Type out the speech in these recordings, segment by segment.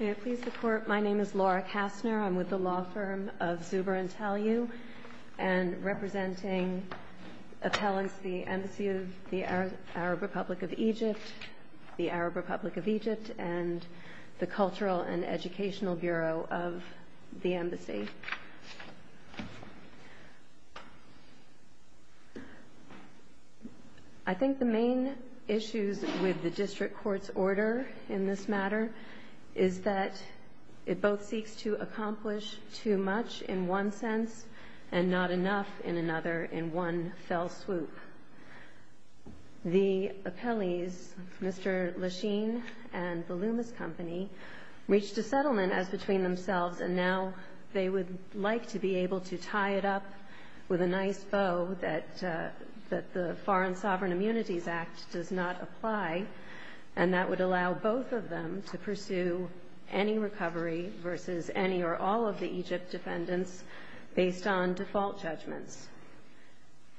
May I please report, my name is Laura Kastner, I'm with the law firm of Zuber and Tellu and representing appellants to the Embassy of the Arab Republic of Egypt, the Arab Republic of Egypt, and the Cultural and Educational Bureau of the Embassy. I think the main issues with the district court's order in this matter is that it both seeks to accomplish too much in one sense and not enough in another in one fell swoop. The appellees, Mr. Lasheen and the Loomis Company, reached a settlement as between themselves and now they would like to be able to tie it up with a nice bow that the Foreign Sovereign Immunities Act does not apply and that would allow both of them to pursue any recovery versus any or all of the Egypt defendants based on default judgments.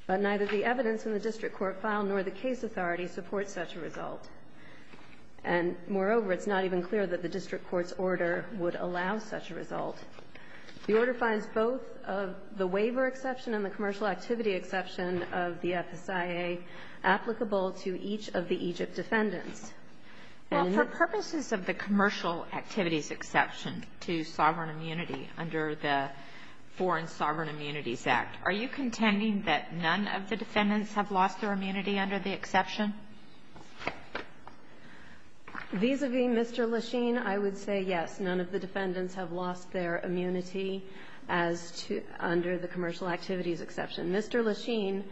But neither the evidence in the district court file nor the case authority supports such a result. And moreover, it's not even clear that the district court's order would allow such a result. The order finds both of the waiver exception and the commercial activity exception of the FSIA applicable to each of the Egypt defendants. Well, for purposes of the commercial activities exception to sovereign immunity under the Foreign Sovereign Immunities Act, are you contending that none of the defendants have lost their immunity under the exception? Vis-a-vis Mr. Lasheen, I would say yes. None of the defendants have lost their immunity as to under the commercial activities exception. Mr. Lasheen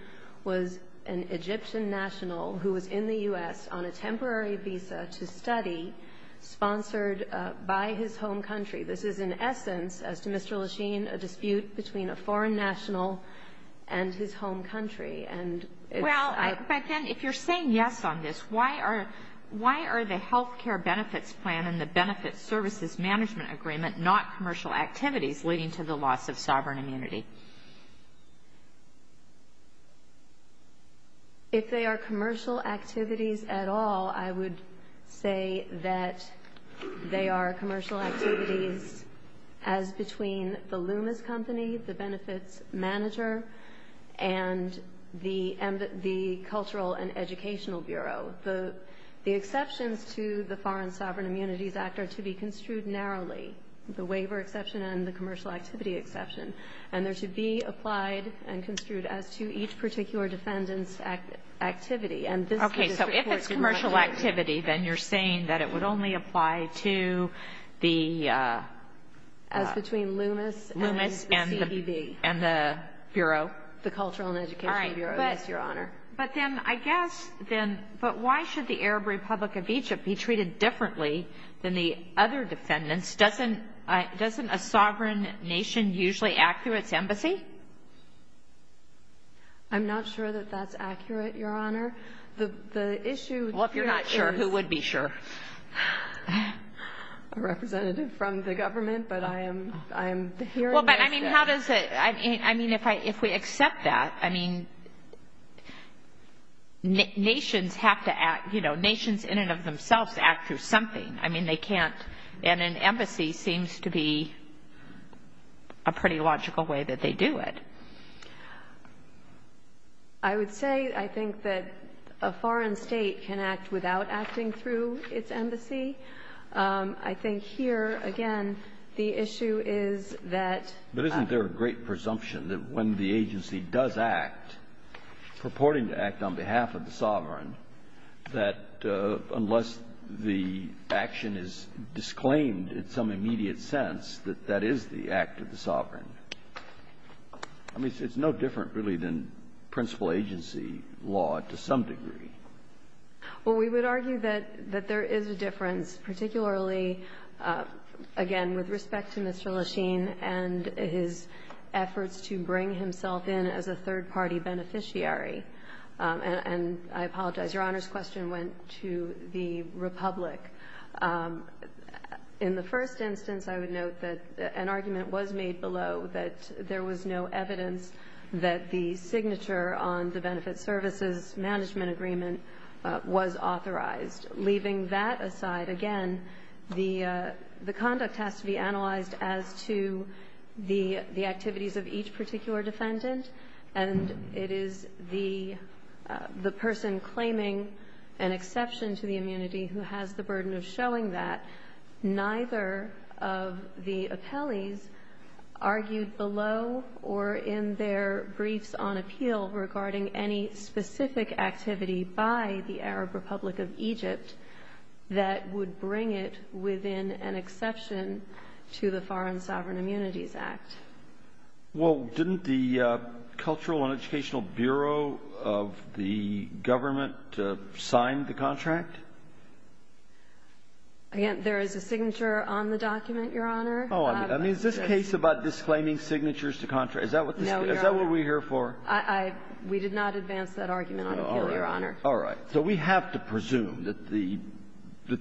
was an Egyptian national who was in the U.S. on a temporary visa to study sponsored by his home country. This is, in essence, as to Mr. Lasheen, a dispute between a foreign national and his home country. And it's a ---- Well, but then if you're saying yes on this, why are the health care benefits plan and the benefits services management agreement not commercial activities leading to the loss of sovereign immunity? If they are commercial activities at all, I would say that they are commercial activities as between the Loomis Company, the benefits manager, and the Cultural and Educational Bureau. The exceptions to the Foreign Sovereign Immunities Act are to be construed narrowly, the waiver exception and the commercial activity exception. And they're to be applied and construed as to each particular defendant's activity. And this is the district court's ---- Activity, then you're saying that it would only apply to the ---- As between Loomis and the CDB. Loomis and the Bureau. The Cultural and Educational Bureau, yes, Your Honor. But then I guess then why should the Arab Republic of Egypt be treated differently than the other defendants? Doesn't a sovereign nation usually act through its embassy? I'm not sure that that's accurate, Your Honor. The issue here is ---- Well, if you're not sure, who would be sure? A representative from the government, but I am hearing this. Well, but I mean, how does it ---- I mean, if we accept that, I mean, nations have to act, you know, nations in and of themselves act through something. I mean, they can't. And an embassy seems to be a pretty logical way that they do it. I would say, I think, that a foreign state can act without acting through its embassy. I think here, again, the issue is that ---- But isn't there a great presumption that when the agency does act, purporting to act on behalf of the sovereign, that unless the action is disclaimed in some immediate sense, that that is the act of the sovereign? I mean, it's no different, really, than principal agency law to some degree. Well, we would argue that there is a difference, particularly, again, with respect to Mr. Lechine and his efforts to bring himself in as a third-party beneficiary. And I apologize. Your Honor's question went to the Republic. In the first instance, I would note that an argument was made below that there was no evidence that the signature on the Benefit Services Management Agreement was authorized. Leaving that aside, again, the conduct has to be analyzed as to the activities of each particular defendant. And it is the person claiming an exception to the immunity who has the burden of showing that. Neither of the appellees argued below or in their briefs on appeal regarding any specific activity by the Arab Republic of Egypt that would bring it within an exception to the Foreign Sovereign Immunities Act. Well, didn't the Cultural and Educational Bureau of the government sign the contract? Again, there is a signature on the document, Your Honor. Oh, I mean, is this case about disclaiming signatures to contract? Is that what we're here for? No, Your Honor. We did not advance that argument on appeal, Your Honor. All right. So we have to presume that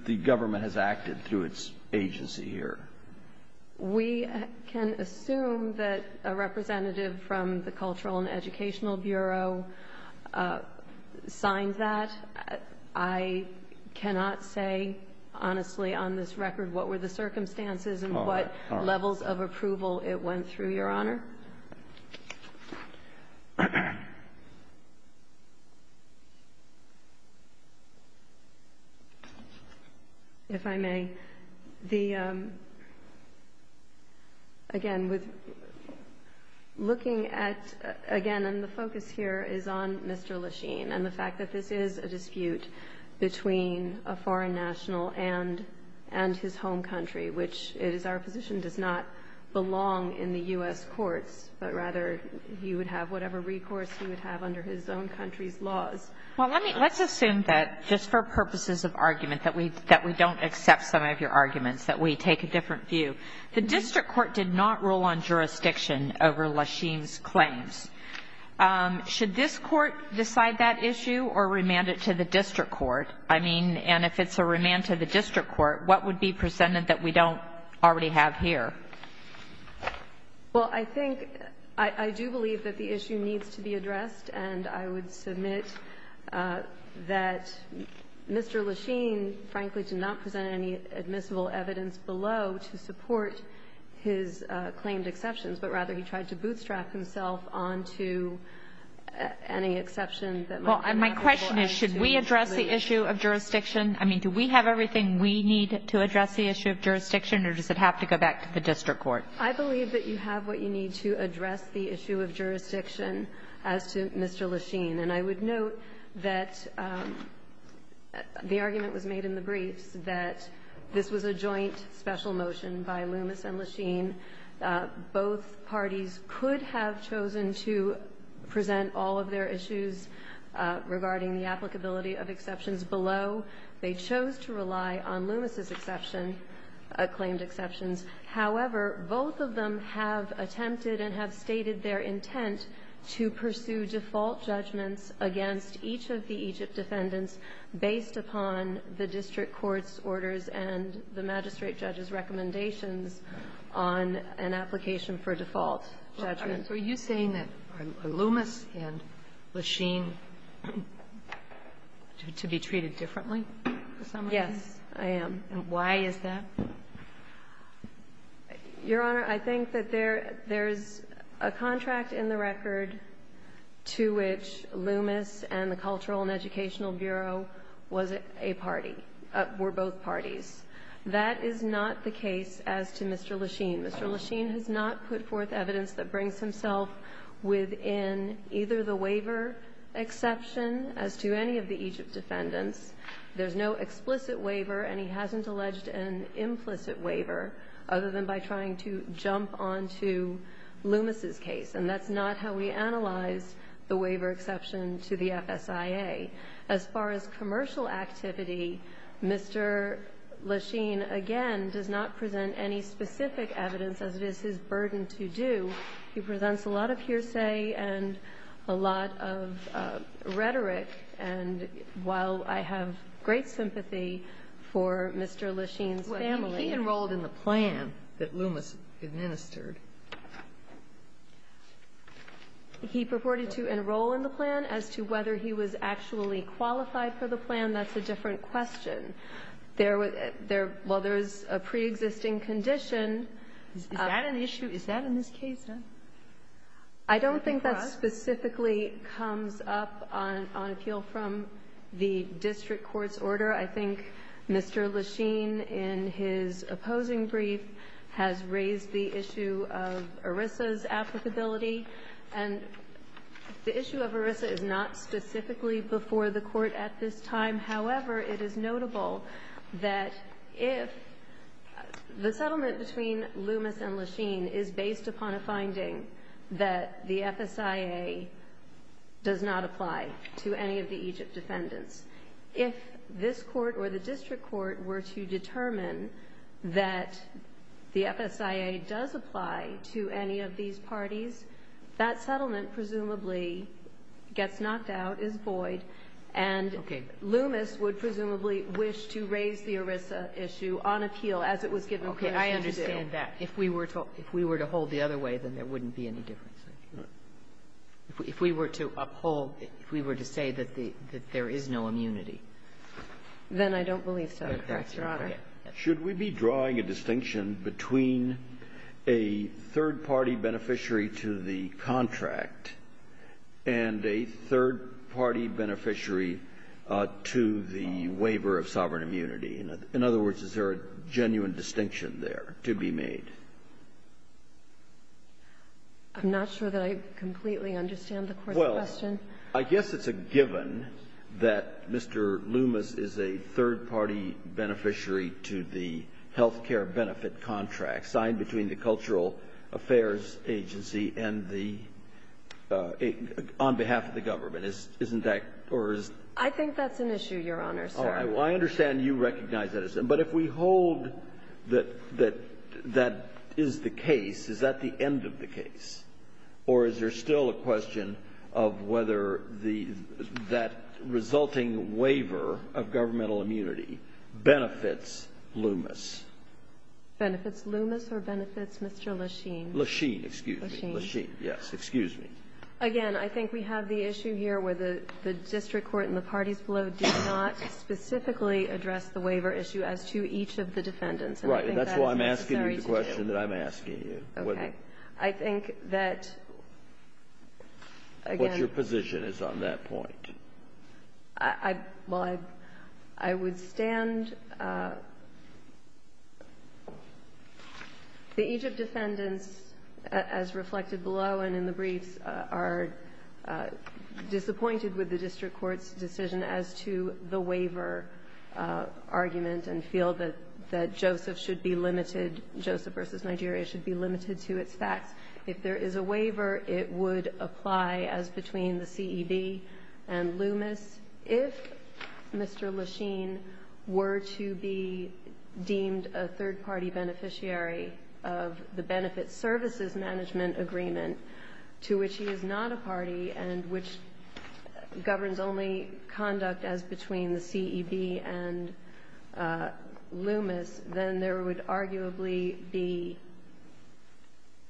the government has acted through its agency here. We can assume that a representative from the Cultural and Educational Bureau signed that. I cannot say honestly on this record what were the circumstances and what levels of approval it went through, Your Honor. If I may, again, with looking at, again, and the focus here is on Mr. Lachine and the fact that this is a dispute between a foreign national and his home country, which it is our position does not belong in the U.S. courts, but rather he would have whatever recourse he would have under his own country's laws. Well, let's assume that just for purposes of argument that we don't accept some of your arguments, that we take a different view. The district court did not rule on jurisdiction over Lachine's claims. Should this court decide that issue or remand it to the district court? I mean, and if it's a remand to the district court, what would be presented that we don't already have here? Well, I think — I do believe that the issue needs to be addressed, and I would submit that Mr. Lachine, frankly, did not present any admissible evidence below to support his claimed exceptions, but rather he tried to bootstrap himself onto any exception that might have been applicable. Well, my question is, should we address the issue of jurisdiction? I mean, do we have everything we need to address the issue of jurisdiction, or does it have to go back to the district court? I believe that you have what you need to address the issue of jurisdiction as to Mr. Lachine. And I would note that the argument was made in the briefs that this was a joint special motion by Loomis and Lachine. Both parties could have chosen to present all of their issues regarding the applicability of exceptions below. They chose to rely on Loomis' exception, claimed exceptions. However, both of them have attempted and have stated their intent to pursue default judgments against each of the Egypt defendants based upon the district court's recommendations on an application for default judgments. Are you saying that Loomis and Lachine should be treated differently? Yes, I am. And why is that? Your Honor, I think that there is a contract in the record to which Loomis and the Cultural and Educational Bureau was a party, were both parties. That is not the case as to Mr. Lachine. Mr. Lachine has not put forth evidence that brings himself within either the waiver exception as to any of the Egypt defendants. There's no explicit waiver, and he hasn't alleged an implicit waiver other than by trying to jump on to Loomis' case. And that's not how we analyzed the waiver exception to the FSIA. As far as commercial activity, Mr. Lachine, again, does not present any specific evidence, as it is his burden to do. He presents a lot of hearsay and a lot of rhetoric. And while I have great sympathy for Mr. Lachine's family. Well, he enrolled in the plan that Loomis administered. He purported to enroll in the plan. As to whether he was actually qualified for the plan, that's a different question. While there is a preexisting condition. Is that an issue? Is that in his case, then? I don't think that specifically comes up on appeal from the district court's order. I think Mr. Lachine, in his opposing brief, has raised the issue of ERISA's applicability. And the issue of ERISA is not specifically before the Court at this time. However, it is notable that if the settlement between Loomis and Lachine is based upon a finding that the FSIA does not apply to any of the Egypt defendants, if this court or the district court were to determine that the FSIA does apply to any of these parties, that settlement presumably gets knocked out, is void, and Loomis would presumably wish to raise the ERISA issue on appeal as it was given permission to do. Okay. I understand that. If we were to hold the other way, then there wouldn't be any difference. If we were to uphold, if we were to say that there is no immunity. Then I don't believe so. Correct, Your Honor. Should we be drawing a distinction between a third-party beneficiary to the contract and a third-party beneficiary to the waiver of sovereign immunity? In other words, is there a genuine distinction there to be made? I'm not sure that I completely understand the Court's question. I guess it's a given that Mr. Loomis is a third-party beneficiary to the health care benefit contract signed between the Cultural Affairs Agency and the — on behalf of the government. Isn't that — or is — I think that's an issue, Your Honor, sir. I understand you recognize that. But if we hold that that is the case, is that the end of the case? Or is there still a question of whether the — that resulting waiver of governmental immunity benefits Loomis? Benefits Loomis or benefits Mr. Lesheen? Lesheen, excuse me. Lesheen. Lesheen, yes. Excuse me. Again, I think we have the issue here where the district court and the parties below did not specifically address the waiver issue as to each of the defendants. Right. And that's why I'm asking you the question that I'm asking you. Okay. I think that, again — What's your position is on that point? I — well, I would stand — the Egypt defendants, as reflected below and in the briefs, are disappointed with the district court's decision as to the waiver argument and feel that Joseph should be limited — Joseph v. Nigeria should be limited to its facts. If there is a waiver, it would apply as between the CEB and Loomis. If Mr. Lesheen were to be deemed a third-party beneficiary of the benefits services management agreement, to which he is not a party and which governs only conduct as between the CEB and Loomis, then there would arguably be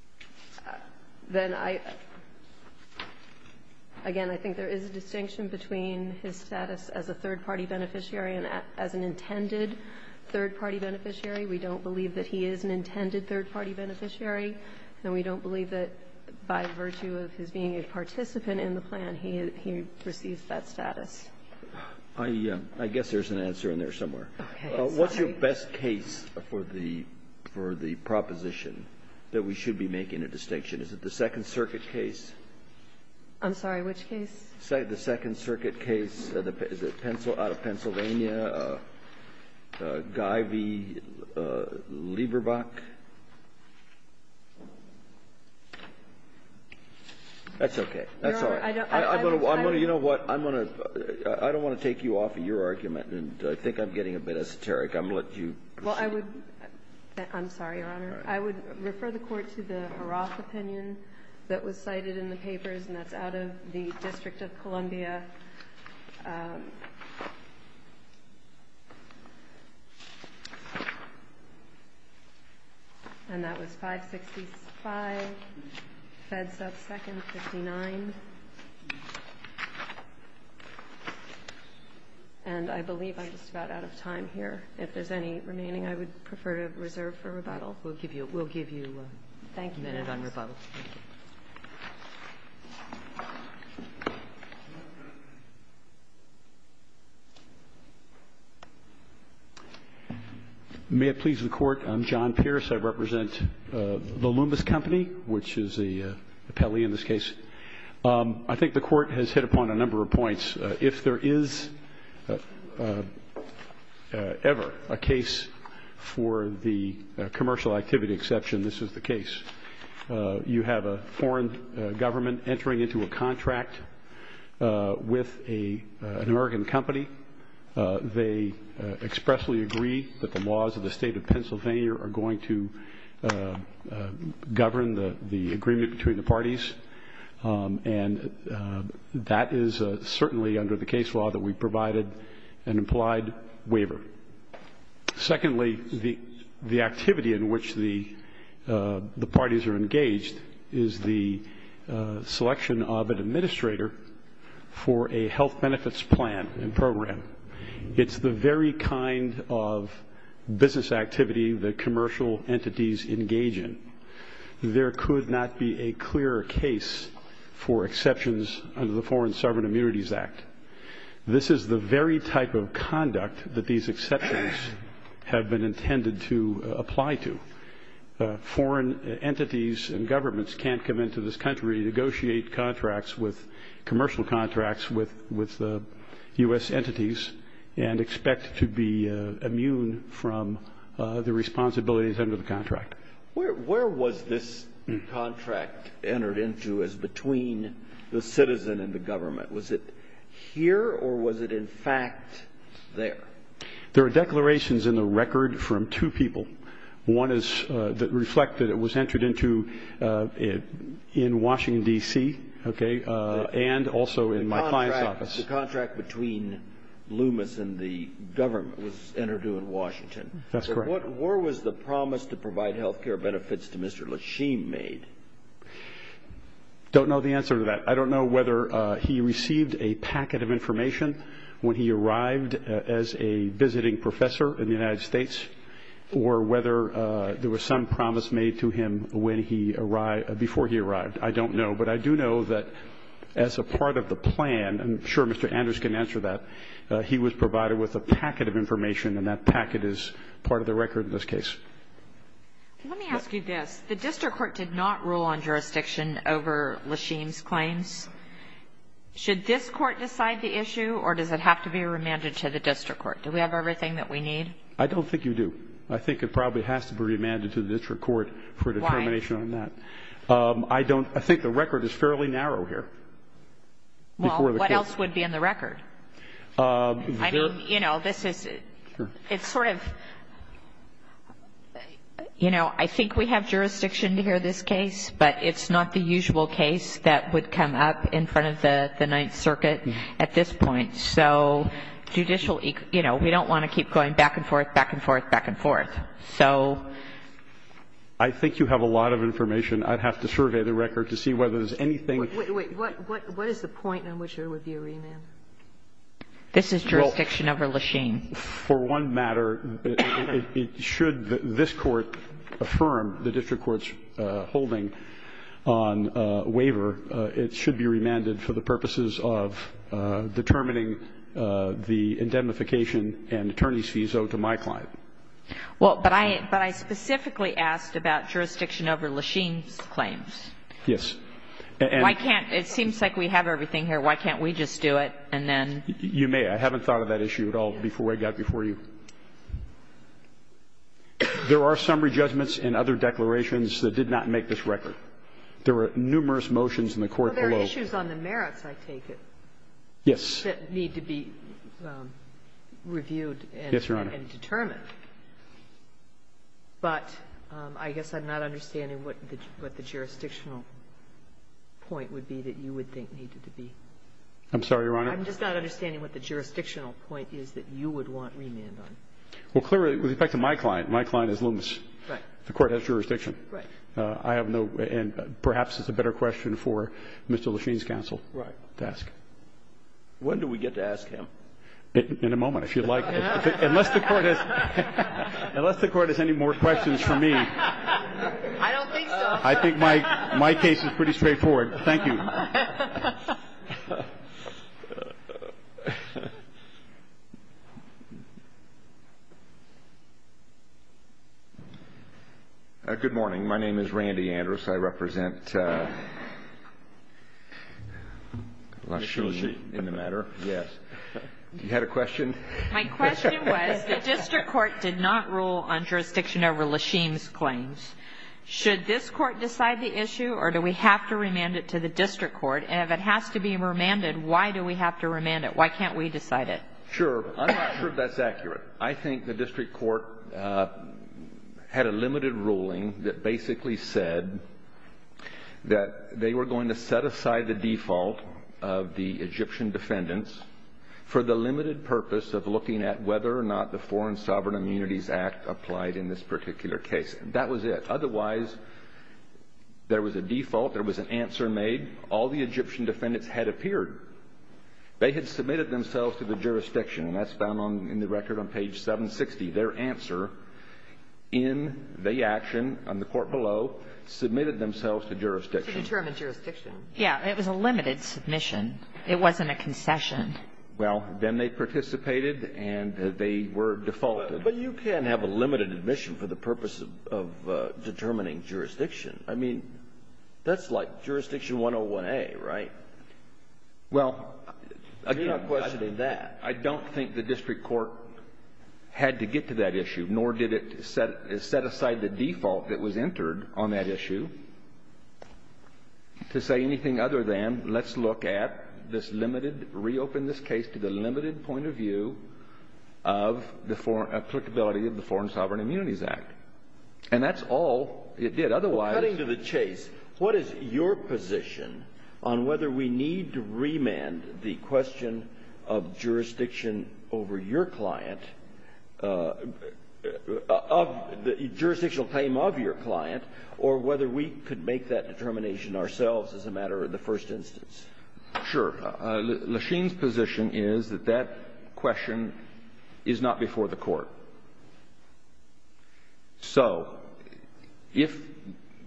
— then I — again, I think there is a distinction between his status as a third-party beneficiary and as an intended third-party beneficiary. We don't believe that he is an intended third-party beneficiary, and we don't believe that by virtue of his being a participant in the plan, he receives that status. I guess there's an answer in there somewhere. Okay. What's your best case for the proposition that we should be making a distinction? Is it the Second Circuit case? I'm sorry. Which case? The Second Circuit case. Is it Pennsylvania, Guy v. Lieberbach? That's okay. That's all. I'm going to — you know what? I'm going to — I don't want to take you off of your argument, and I think I'm getting a bit esoteric. I'm going to let you proceed. Well, I would — I'm sorry, Your Honor. I would refer the Court to the Haraff opinion that was cited in the papers, and that's out of the District of Columbia, and that was 565, Fed stuff second, 59. And I believe I'm just about out of time here. If there's any remaining, I would prefer to reserve for rebuttal. We'll give you — we'll give you a minute on rebuttal. Thank you. May it please the Court. I'm John Pierce. I represent the Loomis Company, which is the appellee in this case. I think the Court has hit upon a number of points. If there is ever a case for the commercial activity exception, this is the case. You have a foreign government entering into a contract with an American company. They expressly agree that the laws of the State of Pennsylvania are going to govern the agreement between the parties. And that is certainly under the case law that we provided an implied waiver. Secondly, the activity in which the parties are engaged is the selection of an administrator for a health benefits plan and program. It's the very kind of business activity that commercial entities engage in. There could not be a clearer case for exceptions under the Foreign Sovereign Immunities Act. This is the very type of conduct that these exceptions have been intended to apply to. Foreign entities and governments can't come into this country, negotiate contracts with — commercial contracts with U.S. entities and expect to be immune from the responsibilities under the contract. Where was this contract entered into as between the citizen and the government? Was it here or was it, in fact, there? There are declarations in the record from two people. One is — that reflect that it was entered into in Washington, D.C. and also in my client's office. The contract between Loomis and the government was entered into in Washington. That's correct. Where was the promise to provide health care benefits to Mr. Lashim made? Don't know the answer to that. I don't know whether he received a packet of information when he arrived as a visiting professor in the United States or whether there was some promise made to him when he arrived — before he arrived. I don't know. But I do know that as a part of the plan — I'm sure Mr. Anders can answer that — he was provided with a packet of information, and that packet is part of the record in this case. Let me ask you this. The district court did not rule on jurisdiction over Lashim's claims. Should this court decide the issue, or does it have to be remanded to the district court? Do we have everything that we need? I don't think you do. I think it probably has to be remanded to the district court for determination on that. Why? I don't — I think the record is fairly narrow here. Well, what else would be in the record? I mean, you know, this is — it's sort of — you know, I think we have jurisdiction to hear this case, but it's not the usual case that would come up in front of the Ninth Circuit at this point. So judicial — you know, we don't want to keep going back and forth, back and forth, back and forth. So — I think you have a lot of information. I'd have to survey the record to see whether there's anything — Wait. What is the point on which there would be a remand? This is jurisdiction over Lashim. For one matter, it should — this Court affirmed the district court's holding on waiver. It should be remanded for the purposes of determining the indemnification and attorney's visa to my client. Well, but I — but I specifically asked about jurisdiction over Lashim's claims. Yes. Why can't — it seems like we have everything here. Why can't we just do it and then — You may. I haven't thought of that issue at all before I got before you. There are summary judgments and other declarations that did not make this record. There were numerous motions in the court below. Well, there are issues on the merits, I take it. Yes. That need to be reviewed and determined. Yes, Your Honor. But I guess I'm not understanding what the jurisdictional point would be that you would think needed to be. I'm sorry, Your Honor. I'm just not understanding what the jurisdictional point is that you would want remand on. Well, clearly, with respect to my client, my client is Loomis. Right. The Court has jurisdiction. Right. I have no — and perhaps it's a better question for Mr. Lashim's counsel to ask. Right. When do we get to ask him? In a moment, if you'd like. Unless the Court has any more questions for me. I don't think so. I think my case is pretty straightforward. Thank you. Good morning. My name is Randy Andrus. I represent Lashim in the matter. Yes. You had a question? My question was, the district court did not rule on jurisdiction over Lashim's claims. Should this Court decide the issue, or do we have to remand it to the district court? And if it has to be remanded, why do we have to remand it? Why can't we decide it? Sure. I'm not sure if that's accurate. I think the district court had a limited ruling that basically said that they were going to set aside the default of the Egyptian defendants for the limited purpose of looking at whether or not the Foreign Sovereign Immunities Act applied in this particular case. That was it. Otherwise, there was a default. There was an answer made. All the Egyptian defendants had appeared. They had submitted themselves to the jurisdiction, and that's found in the record on page 760. Their answer in the action on the court below, submitted themselves to jurisdiction. To determine jurisdiction. Yes. It was a limited submission. It wasn't a concession. Well, then they participated, and they were defaulted. But you can't have a limited admission for the purpose of determining jurisdiction. I mean, that's like jurisdiction 101A, right? Well, again, I don't think the district court had to get to that issue, nor did it set aside the default that was entered on that issue to say anything other than let's look at this limited, reopen this case to the limited point of view of the applicability of the Foreign Sovereign Immunities Act. And that's all it did. Otherwise — Well, cutting to the chase, what is your position on whether we need to remand the question of jurisdiction over your client, of the jurisdictional claim of your client, or whether we could make that determination ourselves as a matter of the first instance? Sure. Lachine's position is that that question is not before the court. So if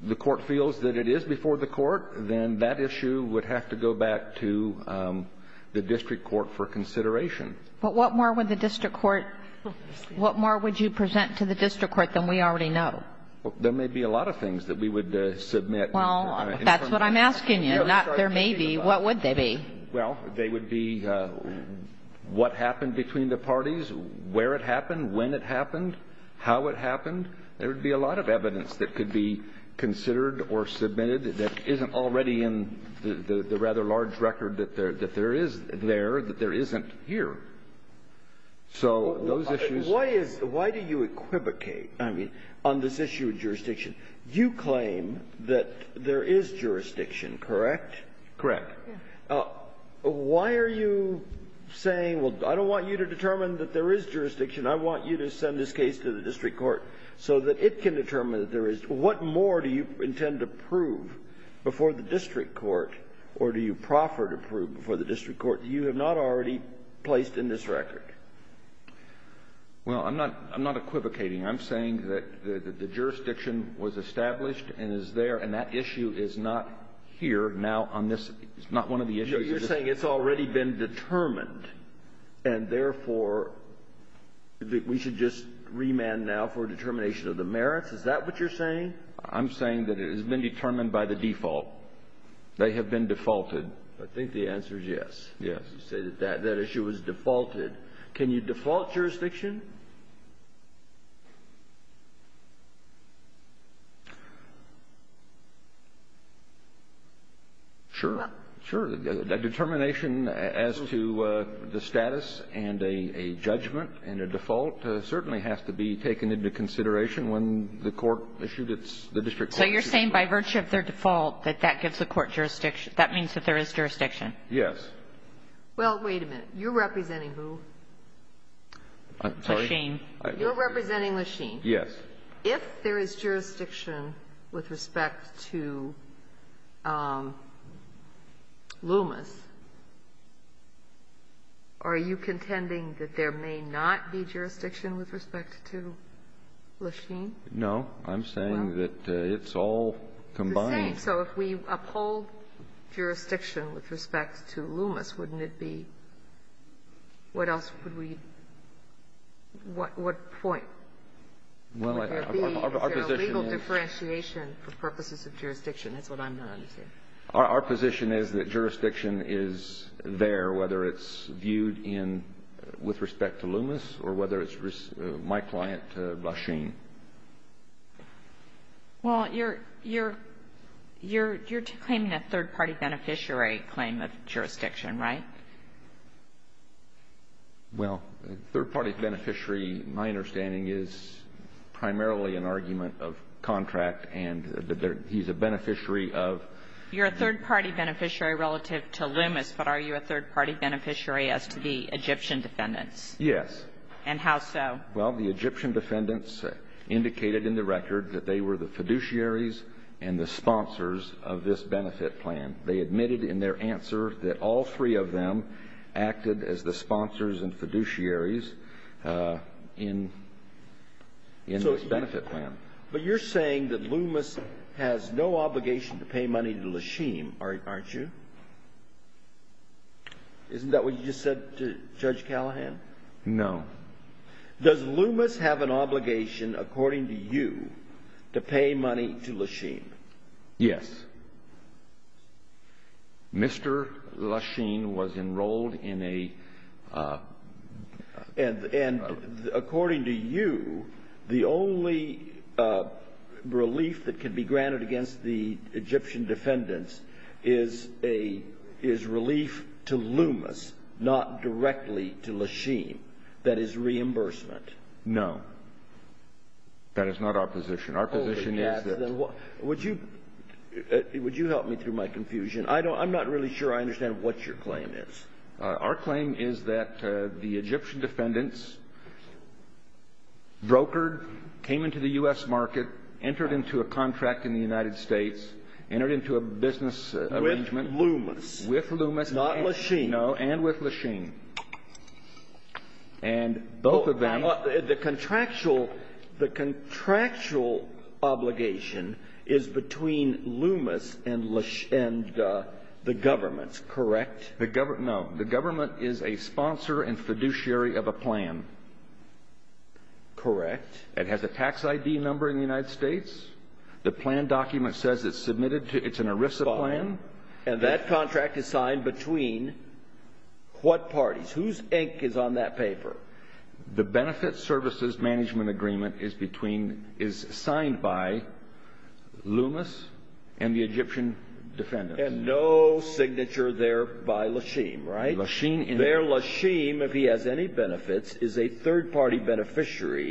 the court feels that it is before the court, then that issue would have to go back to the district court for consideration. But what more would the district court — what more would you present to the district court than we already know? There may be a lot of things that we would submit. Well, that's what I'm asking you, not there may be. What would they be? Well, they would be what happened between the parties, where it happened, when it happened, how it happened. There would be a lot of evidence that could be considered or submitted that isn't already in the rather large record that there is there, that there isn't here. So those issues — Why is — why do you equivocate, I mean, on this issue of jurisdiction? You claim that there is jurisdiction, correct? Correct. Why are you saying, well, I don't want you to determine that there is jurisdiction. I want you to send this case to the district court so that it can determine that there is. What more do you intend to prove before the district court, or do you proffer to prove before the district court that you have not already placed in this record? Well, I'm not equivocating. I'm saying that the jurisdiction was established and is there, and that issue is not here now on this — it's not one of the issues. You're saying it's already been determined, and therefore, we should just remand now for determination of the merits? Is that what you're saying? I'm saying that it has been determined by the default. They have been defaulted. I think the answer is yes. You say that that issue was defaulted. Can you default jurisdiction? Sure. Sure. A determination as to the status and a judgment and a default certainly has to be taken into consideration when the court issued its — the district court issued its ruling. So you're saying by virtue of their default that that gives the court jurisdiction — that means that there is jurisdiction? Yes. Well, wait a minute. You're representing who? Lasheen. You're representing Lasheen. Yes. If there is jurisdiction with respect to Loomis, are you contending that there may not be jurisdiction with respect to Lasheen? No. I'm saying that it's all combined. It's the same. So if we uphold jurisdiction with respect to Loomis, wouldn't it be — what else would we — what point would there be? Well, our position is — Is there a legal differentiation for purposes of jurisdiction? That's what I'm trying to say. Our position is that jurisdiction is there, whether it's viewed in — with respect to Loomis or whether it's my client, Lasheen. Well, you're — you're — you're claiming a third-party beneficiary claim of jurisdiction, right? Well, third-party beneficiary, my understanding, is primarily an argument of contract and that there — he's a beneficiary of — You're a third-party beneficiary relative to Loomis, but are you a third-party beneficiary as to the Egyptian defendants? Yes. And how so? Well, the Egyptian defendants indicated in the record that they were the fiduciaries and the sponsors of this benefit plan. They admitted in their answer that all three of them acted as the sponsors and fiduciaries in — in this benefit plan. But you're saying that Loomis has no obligation to pay money to Lasheen, aren't you? Isn't that what you just said to Judge Callahan? No. Does Loomis have an obligation, according to you, to pay money to Lasheen? Yes. Mr. Lasheen was enrolled in a — And — and according to you, the only relief that can be granted against the Egyptian defendants is a — is relief to Loomis, not directly to Lasheen. That is reimbursement. No. That is not our position. Our position is that — Would you — would you help me through my confusion? I don't — I'm not really sure I understand what your claim is. Our claim is that the Egyptian defendants brokered, came into the U.S. market, entered into a contract in the United States, entered into a business arrangement — With Loomis. With Loomis. Not Lasheen. No. And with Lasheen. And both of them — The contractual — the contractual obligation is between Loomis and Lash — and the government, correct? The government — no. The government is a sponsor and fiduciary of a plan. Correct. It has a tax ID number in the United States. The plan document says it's submitted to — it's an ERISA plan. And that contract is signed between what parties? Whose ink is on that paper? The Benefit Services Management Agreement is between — is signed by Loomis and the Egyptian defendants. And no signature there by Lasheen, right? Lasheen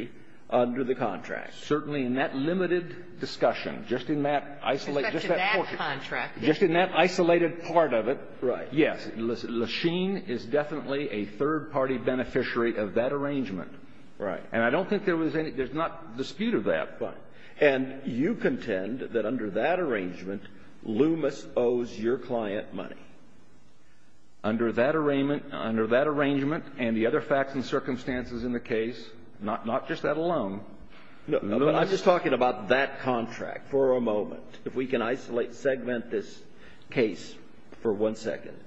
— Under the contract. Certainly in that limited discussion, just in that isolated — just that portion. Except to that contract. Just in that isolated part of it. Right. Yes. Lasheen is definitely a third-party beneficiary of that arrangement. Right. And I don't think there was any — there's not dispute of that. Right. And you contend that under that arrangement, Loomis owes your client money. Under that arrangement — under that arrangement and the other facts and circumstances in the case, not just that alone. I'm just talking about that contract for a moment. If we can isolate, segment this case for one second.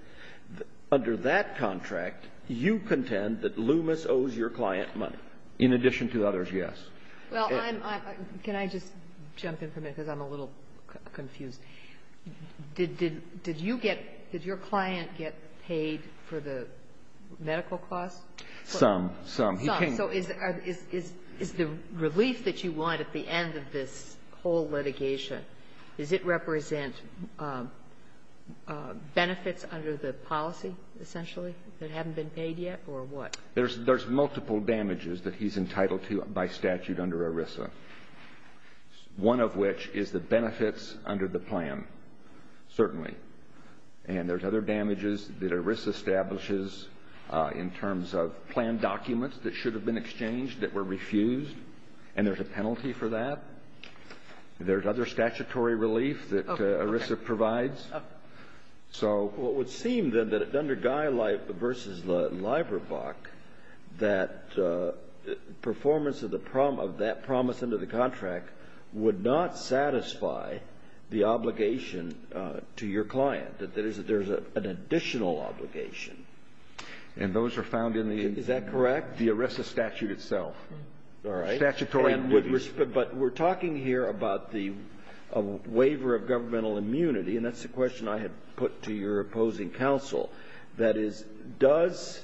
Under that contract, you contend that Loomis owes your client money. In addition to others, yes. Well, I'm — can I just jump in for a minute because I'm a little confused? Did you get — did your client get paid for the medical costs? Some. Some. Some. So is the relief that you want at the end of this whole litigation, does it represent benefits under the policy, essentially, that haven't been paid yet, or what? There's multiple damages that he's entitled to by statute under ERISA, one of which is the benefits under the plan, certainly. And there's other damages that ERISA establishes in terms of planned documents that should have been exchanged that were refused, and there's a penalty for that. There's other statutory relief that ERISA provides. What would seem, then, that under Guy versus Leiberbach, that performance of that promise under the contract would not satisfy the obligation to your client, that there's an additional obligation. And those are found in the — Is that correct? The ERISA statute itself. All right. Statutory — But we're talking here about the waiver of governmental immunity, and that's the question I had put to your opposing counsel. That is, does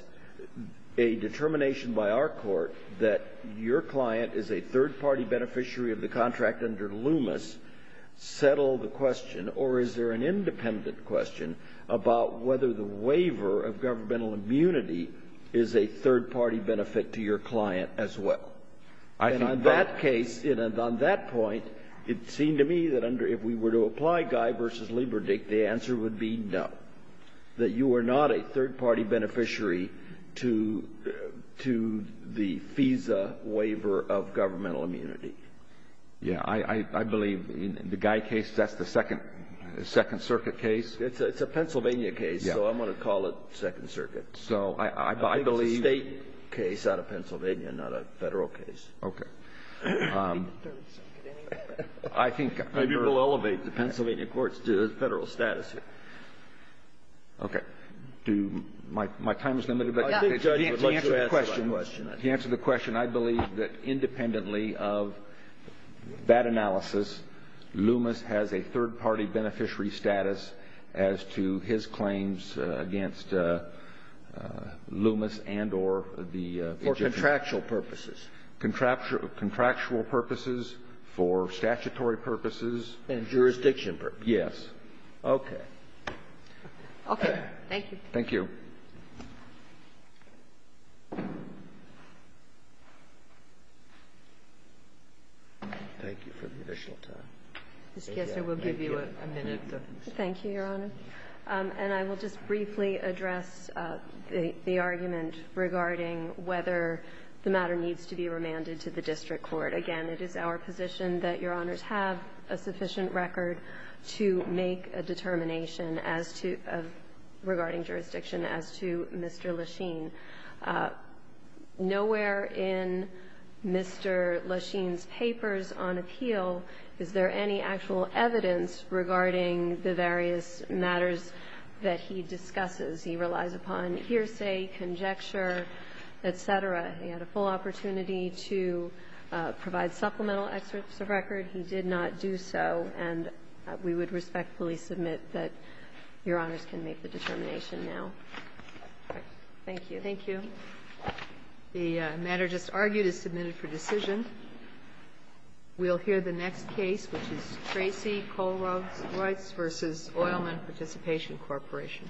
a determination by our court that your client is a third-party beneficiary of the contract under Loomis settle the question, or is there an independent question about whether the waiver of governmental immunity is a third-party benefit to your client as well? I think both. And on that case, on that point, it seemed to me that under — if we were to apply Guy versus Lieberdich, the answer would be no, that you are not a third-party beneficiary to the FISA waiver of governmental immunity. Yeah. I believe in the Guy case, that's the Second Circuit case. It's a Pennsylvania case, so I'm going to call it Second Circuit. So I believe — Okay. I think — Maybe we'll elevate the Pennsylvania courts to the Federal status here. Okay. Do — my time is limited, but — I think the judge would like to answer that question. To answer the question, I believe that independently of that analysis, Loomis has a third-party beneficiary status as to his claims against Loomis and or the — For contractual purposes. Contractual purposes, for statutory purposes. And jurisdiction purposes. Yes. Okay. Okay. Thank you. Thank you. Thank you for the additional time. Mr. Kessler, we'll give you a minute to — Thank you, Your Honor. And I will just briefly address the argument regarding whether the matter needs to be remanded to the district court. Again, it is our position that Your Honors have a sufficient record to make a determination as to — regarding jurisdiction as to Mr. Lesheen. Nowhere in Mr. Lesheen's papers on appeal is there any actual evidence regarding the various matters that he discusses. He relies upon hearsay, conjecture, et cetera. He had a full opportunity to provide supplemental excerpts of record. He did not do so. And we would respectfully submit that Your Honors can make the determination now. Thank you. Thank you. The matter just argued is submitted for decision. We'll hear the next case, which is Tracy Kollreuss v. Oilman Participation Corporation. Thank you.